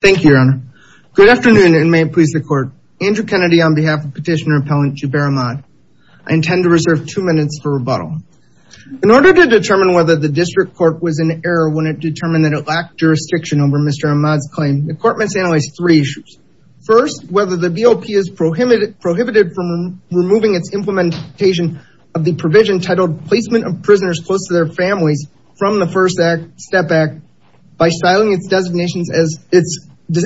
Thank you your honor. Good afternoon and may it please the court. Andrew Kennedy on behalf of petitioner appellant Jubair Ahmad. I intend to reserve two minutes for rebuttal. In order to determine whether the district court was in error when it determined that it lacked jurisdiction over Mr. Ahmad's claim, the court must analyze three issues. First, whether the VOP is prohibited from removing its implementation of the provision titled placement of prisoners close to their families from the first step act by styling its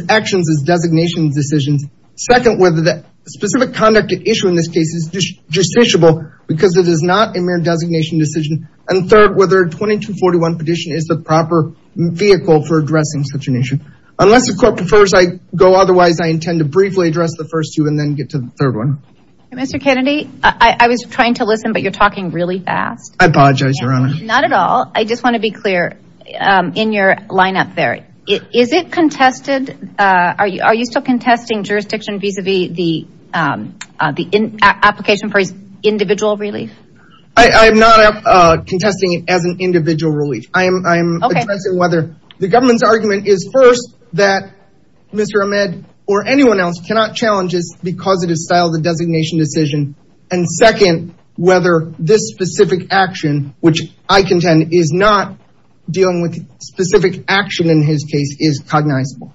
actions as designation decisions. Second, whether the specific conduct at issue in this case is justiciable because it is not a mere designation decision. And third, whether 2241 petition is the proper vehicle for addressing such an issue. Unless the court prefers I go otherwise I intend to briefly address the first two and then get to the third one. Mr. Kennedy I was trying to listen but you're talking really fast. I apologize your honor. Not at all. I just want to be clear in your line up there. Is it contested? Are you still contesting jurisdiction vis-a-vis the application for his individual relief? I'm not contesting it as an individual relief. I'm addressing whether the government's argument is first that Mr. Ahmad or anyone else cannot challenge this because it is styled the designation decision. And second, whether this specific action, which I contend is not dealing with specific action in his case is cognizable.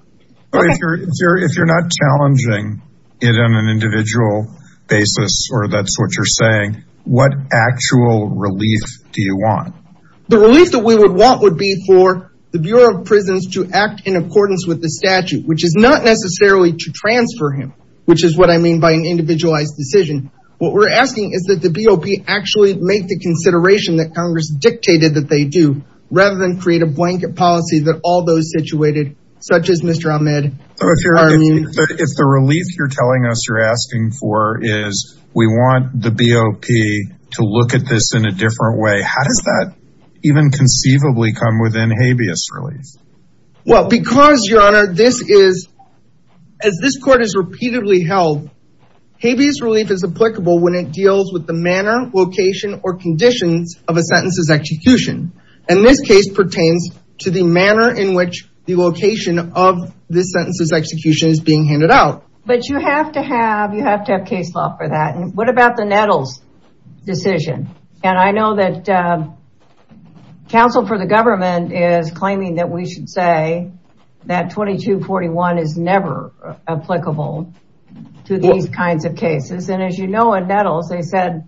If you're not challenging it on an individual basis or that's what you're saying, what actual relief do you want? The relief that we would want would be for the Bureau of Prisons to act in accordance with the statute, which is not necessarily to transfer him, which is what I mean by an individualized decision. What we're asking is that the BOP actually make the consideration that Congress dictated that they do rather than create a blanket policy that all those situated such as Mr. Ahmad are immune. If the relief you're telling us you're asking for is we want the BOP to look at this in a different way, how does that even conceivably come within habeas relief? Well, because your honor, this is, as this court has repeatedly held, habeas relief is applicable when it deals with the manner, location, or conditions of a sentence's execution. And this case pertains to the manner in which the location of this sentence's execution is being handed out. But you have to have, you have to have case law for that. And what about the Nettles decision? And I know that counsel for the government is claiming that we should say that 2241 is never applicable to these kinds of cases. And as you know, in Nettles, they said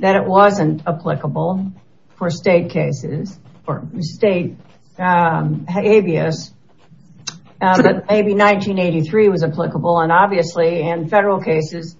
that it wasn't applicable for state cases or state habeas, but maybe 1983 was applicable. And obviously in federal cases,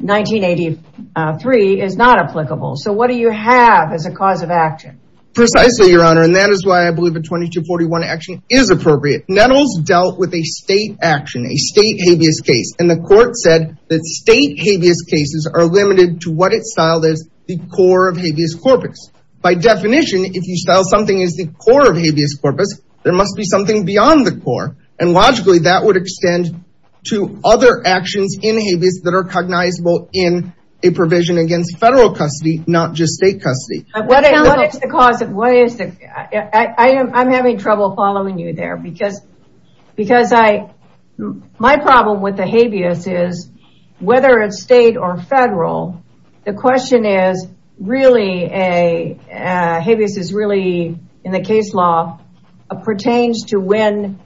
1983 is not applicable. So what do you have as a cause of action? Precisely, your honor. And that is why I believe a 2241 action is appropriate. Nettles dealt with a state action, a state habeas case. And the court said that state habeas cases are limited to what it's styled as the core of habeas corpus. By definition, if you style something as the core of habeas corpus, there must be something beyond the core. And logically that would extend to other actions in habeas that are cognizable in a provision against federal custody, not just state custody. What is the cause of, what is the, I am, I'm having trouble following you there because, because I, my problem with the habeas is whether it's state or federal, the question is really a, habeas is really in the case law pertains to when,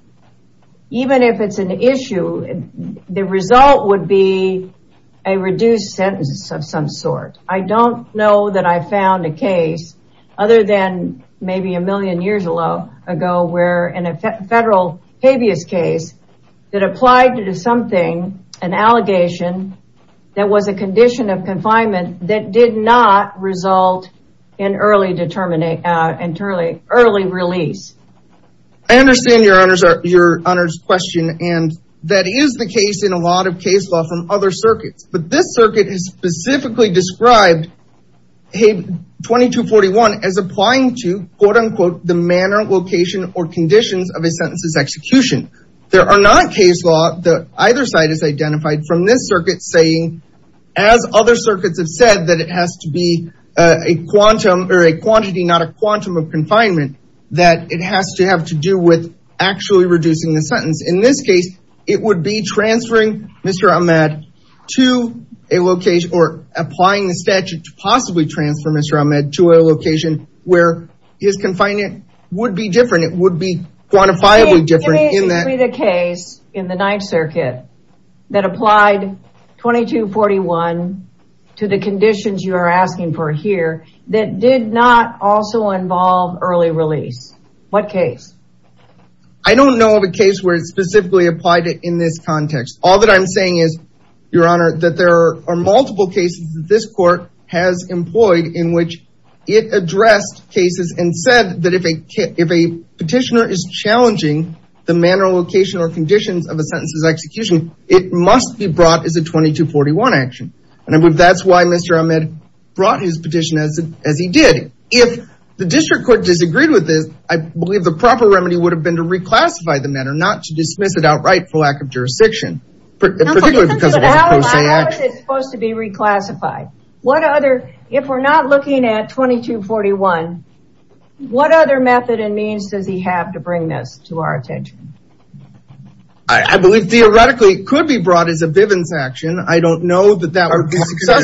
even if it's an issue, the result would be a reduced sentence of some sort. I don't know that I found a case other than maybe a million years ago where in a federal habeas case that applied to something, an not result in early determinate, in early, early release. I understand your honors, your honors question. And that is the case in a lot of case law from other circuits. But this circuit has specifically described Habe 2241 as applying to quote unquote, the manner, location or conditions of a sentence's execution. There are not case law that either side has identified from this circuit saying, as other circuits have said, that it has to be a quantum or a quantity, not a quantum of confinement, that it has to have to do with actually reducing the sentence. In this case, it would be transferring Mr. Ahmed to a location or applying the statute to possibly transfer Mr. Ahmed to a location where his confinement would be different. It would be quantifiably different in that. Tell me the case in the Ninth Circuit that applied 2241 to the conditions you are asking for here that did not also involve early release. What case? I don't know of a case where it specifically applied it in this context. All that I'm saying is your honor, that there are multiple cases that this court has employed in which it addressed cases and said that if a petitioner is challenging the manner, location or conditions of a sentence's execution, it must be brought as a 2241 action. And I believe that's why Mr. Ahmed brought his petition as he did. If the district court disagreed with this, I believe the proper remedy would have been to reclassify the matter, not to dismiss it outright for lack of jurisdiction. How is it supposed to be reclassified? What other, if we're not looking at 2241, what other method and means does he have to bring this to our attention? I believe theoretically it could be brought as a Bivens action. I don't know that that would be successful.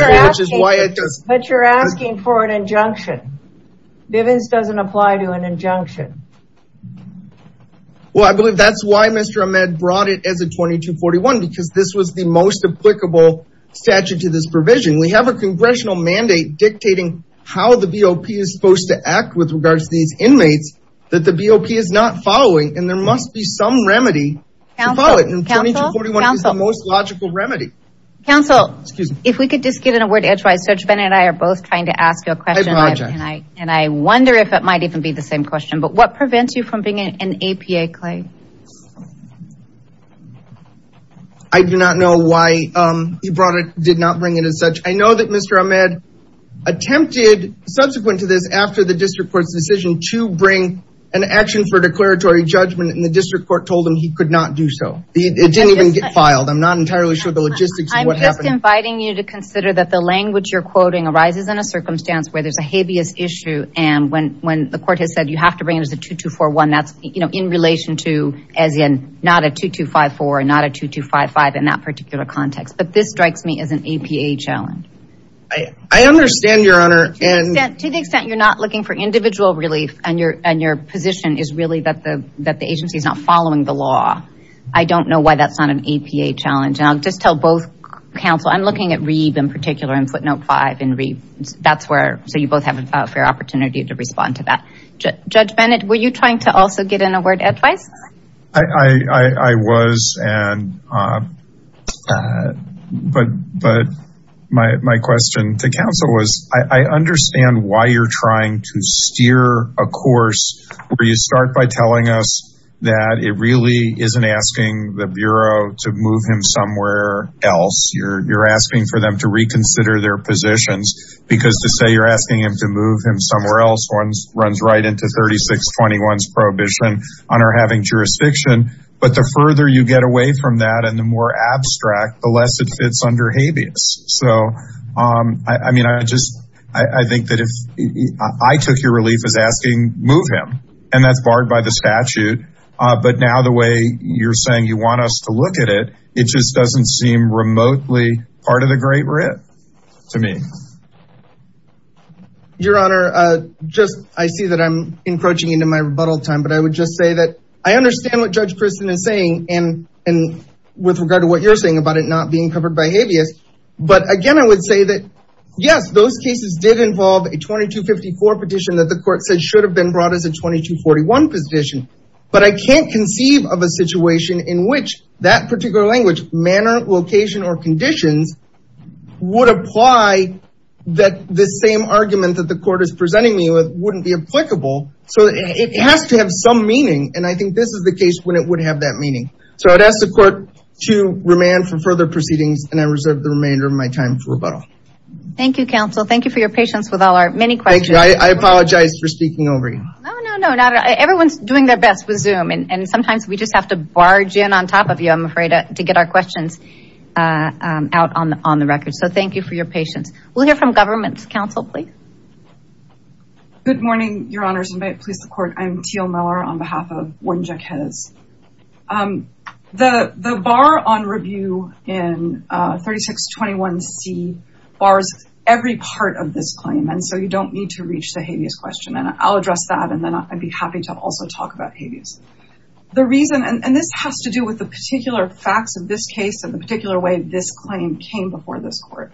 But you're asking for an injunction. Bivens doesn't apply to an injunction. Well, I believe that's why Mr. Ahmed brought it as a 2241 because this was the most applicable statute to this provision. We have a congressional mandate dictating how the BOP is supposed to act with regards to these inmates that the BOP is not following. And there must be some remedy to follow it. And 2241 is the most logical remedy. Counsel, if we could just get in a word edgewise. Judge Bennett and I are both trying to ask you a question. And I wonder if it might even be the same question. But what prevents you from being an APA claim? I do not know why he did not bring it as such. I know that Mr. Ahmed attempted, subsequent to this, after the district court's decision to bring an action for declaratory judgment and the district court told him he could not do so. It didn't even get filed. I'm not entirely sure the logistics of what happened. I'm just inviting you to consider that the language you're quoting arises in a circumstance where there's a habeas issue. And when the not a 2254, not a 2255 in that particular context. But this strikes me as an APA challenge. I understand, Your Honor. To the extent you're not looking for individual relief and your position is really that the agency is not following the law, I don't know why that's not an APA challenge. And I'll just tell both counsel, I'm looking at Reeve in particular in footnote five in Reeve. So you both have a fair opportunity to respond to that. Judge Bennett, were you trying to also get in a word of advice? I was. But my question to counsel was, I understand why you're trying to steer a course where you start by telling us that it really isn't asking the Bureau to move him somewhere else. You're asking for them to reconsider their runs right into 3621's prohibition on our having jurisdiction. But the further you get away from that and the more abstract, the less it fits under habeas. So, I mean, I just, I think that if I took your relief as asking move him and that's barred by the statute. But now the way you're saying you want us to look at it, it just doesn't seem remotely part of the great writ to me. Your Honor, just, I see that I'm encroaching into my rebuttal time, but I would just say that I understand what Judge Kristen is saying and with regard to what you're saying about it not being covered by habeas. But again, I would say that, yes, those cases did involve a 2254 petition that the court said should have been brought as a 2241 petition. But I can't conceive of a situation in which that location or conditions would apply that the same argument that the court is presenting me with wouldn't be applicable. So, it has to have some meaning and I think this is the case when it would have that meaning. So, I'd ask the court to remand for further proceedings and I reserve the remainder of my time for rebuttal. Thank you, counsel. Thank you for your patience with all our many questions. I apologize for speaking over you. No, no, no, not at all. Everyone's doing their best with Zoom and sometimes we just have to barge in on top of you, I'm afraid, to get our questions out on the record. So, thank you for your patience. We'll hear from government counsel, please. Good morning, your honors, and may it please the court. I'm Teal Miller on behalf of Warren Jacquez. The bar on review in 3621C bars every part of this claim and so you don't need to reach the habeas question and I'll address that and then I'd be happy to also talk about habeas. The reason, and this has to do with the particular facts of this case and the particular way this claim came before this court.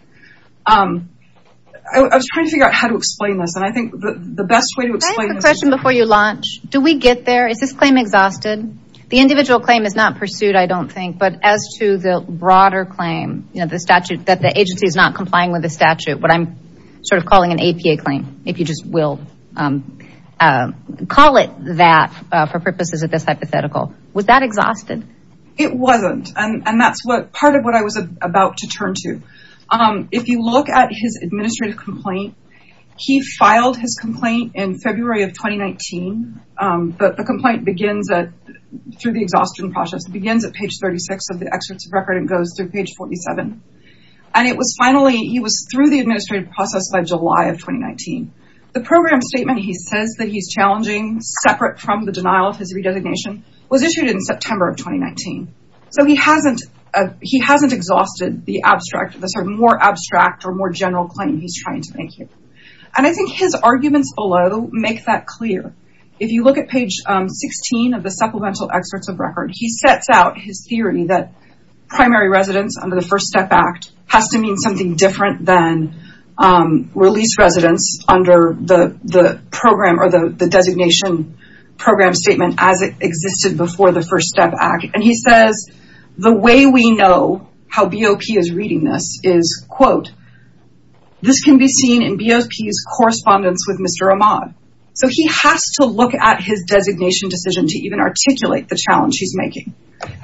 I was trying to figure out how to explain this and I think the best way to explain this is... Can I ask a question before you launch? Do we get there? Is this claim exhausted? The individual claim is not pursued, I don't think, but as to the broader claim, you know, the statute, that the agency is not complying with the statute, what I'm sort of calling an APA claim, if you just will call it that for purposes of this hypothetical. Was that exhausted? It wasn't and that's what part of what I was about to turn to. If you look at his administrative complaint, he filed his complaint in February of 2019, but the complaint begins through the exhaustion process. It begins at page 36 of the excerpts of record and goes through page 47. And it was finally, he was through the administrative process by July of 2019. The program statement he says that he's challenging separate from the denial of his redesignation was issued in September of 2019. So he hasn't exhausted the abstract, the sort of more abstract or more general claim he's trying to make here. And I think his arguments below make that clear. If you look at page 16 of the supplemental excerpts of record, he sets out his theory that primary residence under the First Step Act has to mean something different than released residence under the program or the designation program statement as it existed before the First Step Act. And he says, the way we know how BOP is reading this is, quote, this can be seen in BOP's correspondence with Mr. Ahmad. So he has to look at his designation decision to even articulate the challenge he's making.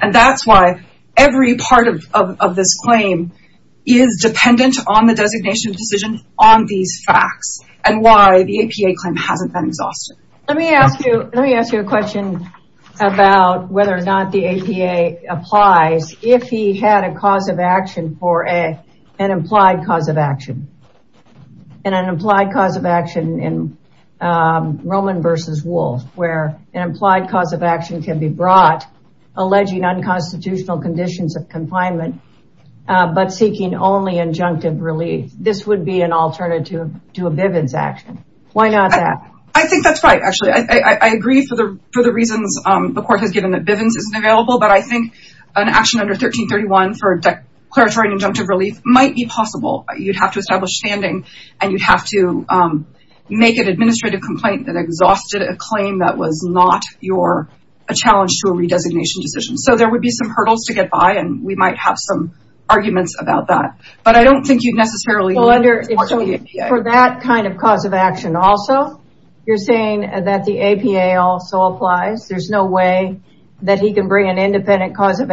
And that's why every part of this claim is dependent on the designation decision on these facts and why the APA claim hasn't been exhausted. Let me ask you a question about whether or not the APA applies if he had a cause of action for an implied cause of action. And an implied cause of action in Roman versus Wolf, where an implied cause of action can be brought, alleging unconstitutional conditions of confinement, but seeking only injunctive relief. This would be an alternative to a Bivens action. Why not that? I think that's right, actually. I agree for the reasons the court has given that Bivens isn't available. But I think an action under 1331 for declaratory and injunctive relief might be possible. You'd have to establish standing and you'd have to make an administrative complaint that exhausted a claim that was not a challenge to a redesignation decision. So there would be some hurdles to get by and we might have some arguments about that. But I don't think you'd necessarily want the APA. For that kind of cause of action also, you're saying that the APA also applies. There's no way that he can bring an independent cause of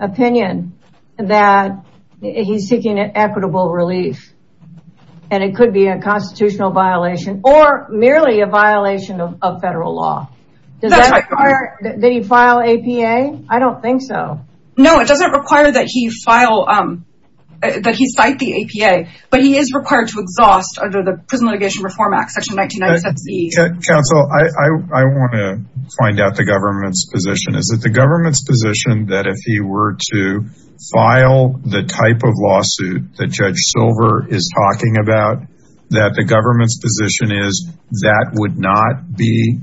opinion that he's seeking equitable relief. And it could be a constitutional violation or merely a violation of federal law. Does that require that he file APA? I don't think so. No, it doesn't require that he cite the APA, but he is required to exhaust under the Prison Litigation Reform Act, section 1997C. Counsel, I want to find out the government's position. Is it the government's position that if he were to file the type of lawsuit that Judge Silver is talking about, that the government's position is that would not be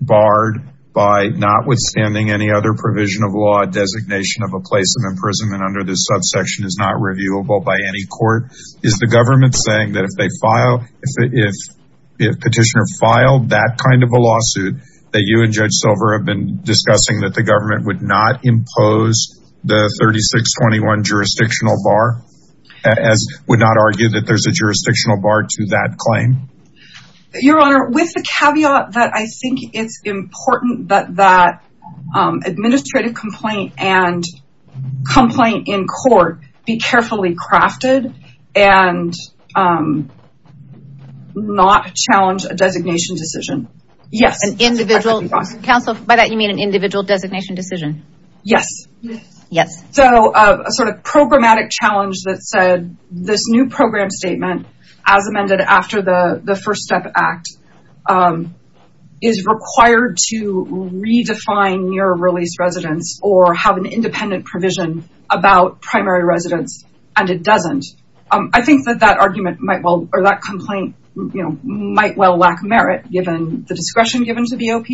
barred by notwithstanding any other provision of law, designation of a place of imprisonment under this subsection is not reviewable by any court? Is the government saying that if petitioner filed that kind of lawsuit that you and Judge Silver have been discussing that the government would not impose the 3621 jurisdictional bar, as would not argue that there's a jurisdictional bar to that claim? Your Honor, with the caveat that I think it's important that that administrative complaint and crafted and not challenge a designation decision. Yes, an individual. Counsel, by that you mean an individual designation decision? Yes. Yes. So a sort of programmatic challenge that said this new program statement as amended after the First Step Act is required to redefine near release residence or have an independent provision about primary residence and it doesn't. I think that that argument might well or that complaint might well lack merit given the discretion given to BOP,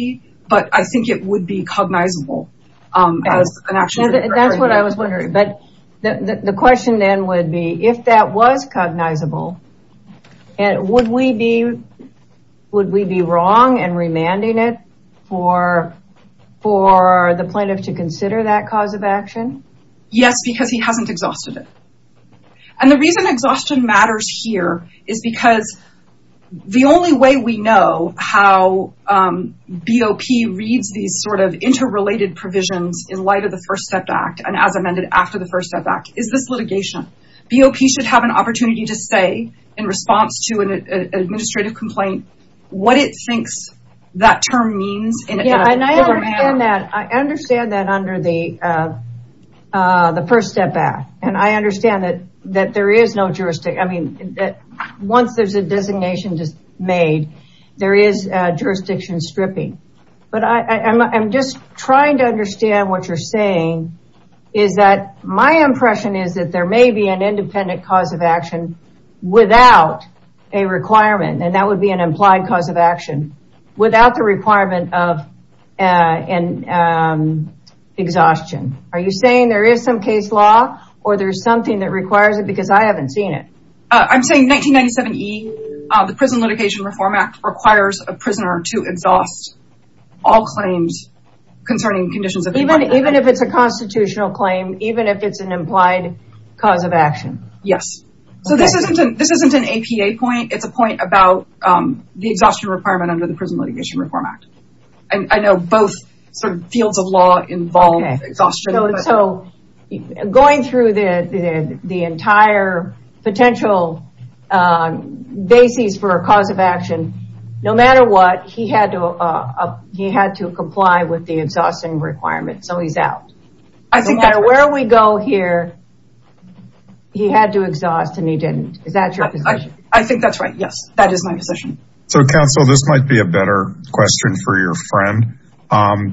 but I think it would be cognizable as an action. That's what I was wondering, but the question then would be if that was cognizable, would we be wrong in remanding it for the plaintiff to consider that cause of action? Yes, because he hasn't exhausted it. And the reason exhaustion matters here is because the only way we know how BOP reads these sort of interrelated provisions in light of the First Step Act and as amended after the First Step Act is this litigation. BOP should have an opportunity to say in response to an administrative complaint what it thinks that term means. I understand that under the First Step Act and I understand that once there's a designation made, there is jurisdiction stripping, but I'm just trying to understand what you're saying is that my impression is that there may be an independent cause of action without a requirement and that would be an implied cause of action, without the requirement of an exhaustion. Are you saying there is some case law or there's something that requires it because I haven't seen it? I'm saying 1997E, the Prison Litigation Reform Act requires a prisoner to exhaust all claims concerning conditions. Even if it's a constitutional claim, even if it's an implied cause of action? Yes. So this isn't an APA point, it's a point about the exhaustion requirement under the Prison Litigation Reform Act. I know both fields of law involve exhaustion. So going through the entire potential basis for a cause of action, no matter what, he had to comply with the exhaustion requirement, so he's out. I think that's right. No matter where we go here, he had to exhaust and he didn't. Is that your position? So counsel, this might be a better question for your friend,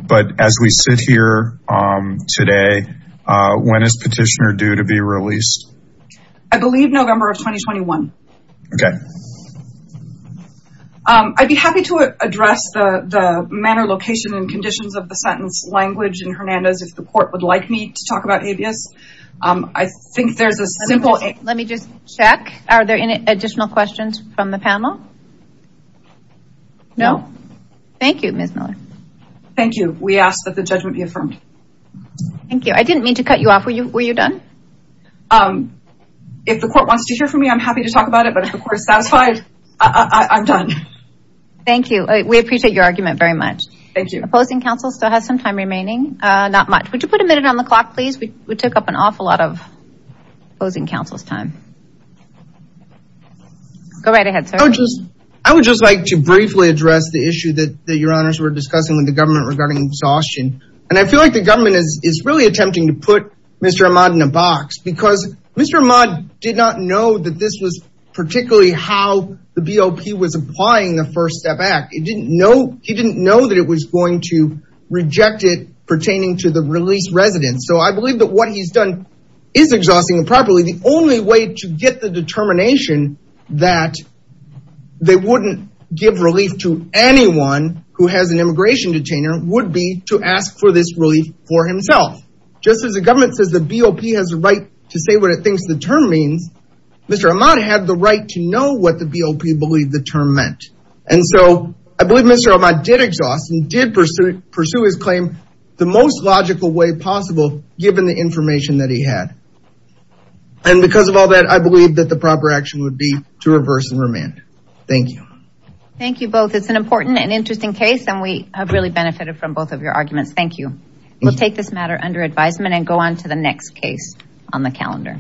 but as we sit here today, when is petitioner due to be released? I believe November of 2021. Okay. I'd be happy to address the manner, location, and conditions of the sentence language in Hernandez if the court would like me to talk about abuse. I think there's a simple... Let me just check, are there any additional questions from the panel? No. Thank you, Ms. Miller. Thank you. We ask that the judgment be affirmed. Thank you. I didn't mean to cut you off. Were you done? If the court wants to hear from me, I'm happy to talk about it, but if the court is satisfied, I'm done. Thank you. We appreciate your argument very much. Thank you. Opposing counsel still has some time remaining, not much. Would you put a minute on the clock, please? We took up an awful lot of opposing counsel's time. Go right ahead, sir. I would just like to briefly address the issue that your honors were discussing with the government regarding exhaustion. And I feel like the government is really attempting to put Mr. Ahmad in a box because Mr. Ahmad did not know that this was particularly how the BOP was applying the First Step Act. He didn't know that it was going to reject it pertaining to the released residents. So I believe that what he's is exhausting improperly. The only way to get the determination that they wouldn't give relief to anyone who has an immigration detainer would be to ask for this relief for himself. Just as the government says the BOP has the right to say what it thinks the term means, Mr. Ahmad had the right to know what the BOP believed the term meant. And so I believe Mr. Ahmad did exhaust and did pursue his claim the most logical way possible given the information that he had. And because of all that, I believe that the proper action would be to reverse and remand. Thank you. Thank you both. It's an important and interesting case and we have really benefited from both of your arguments. Thank you. We'll take this matter under advisement and go on to the next case on the calendar.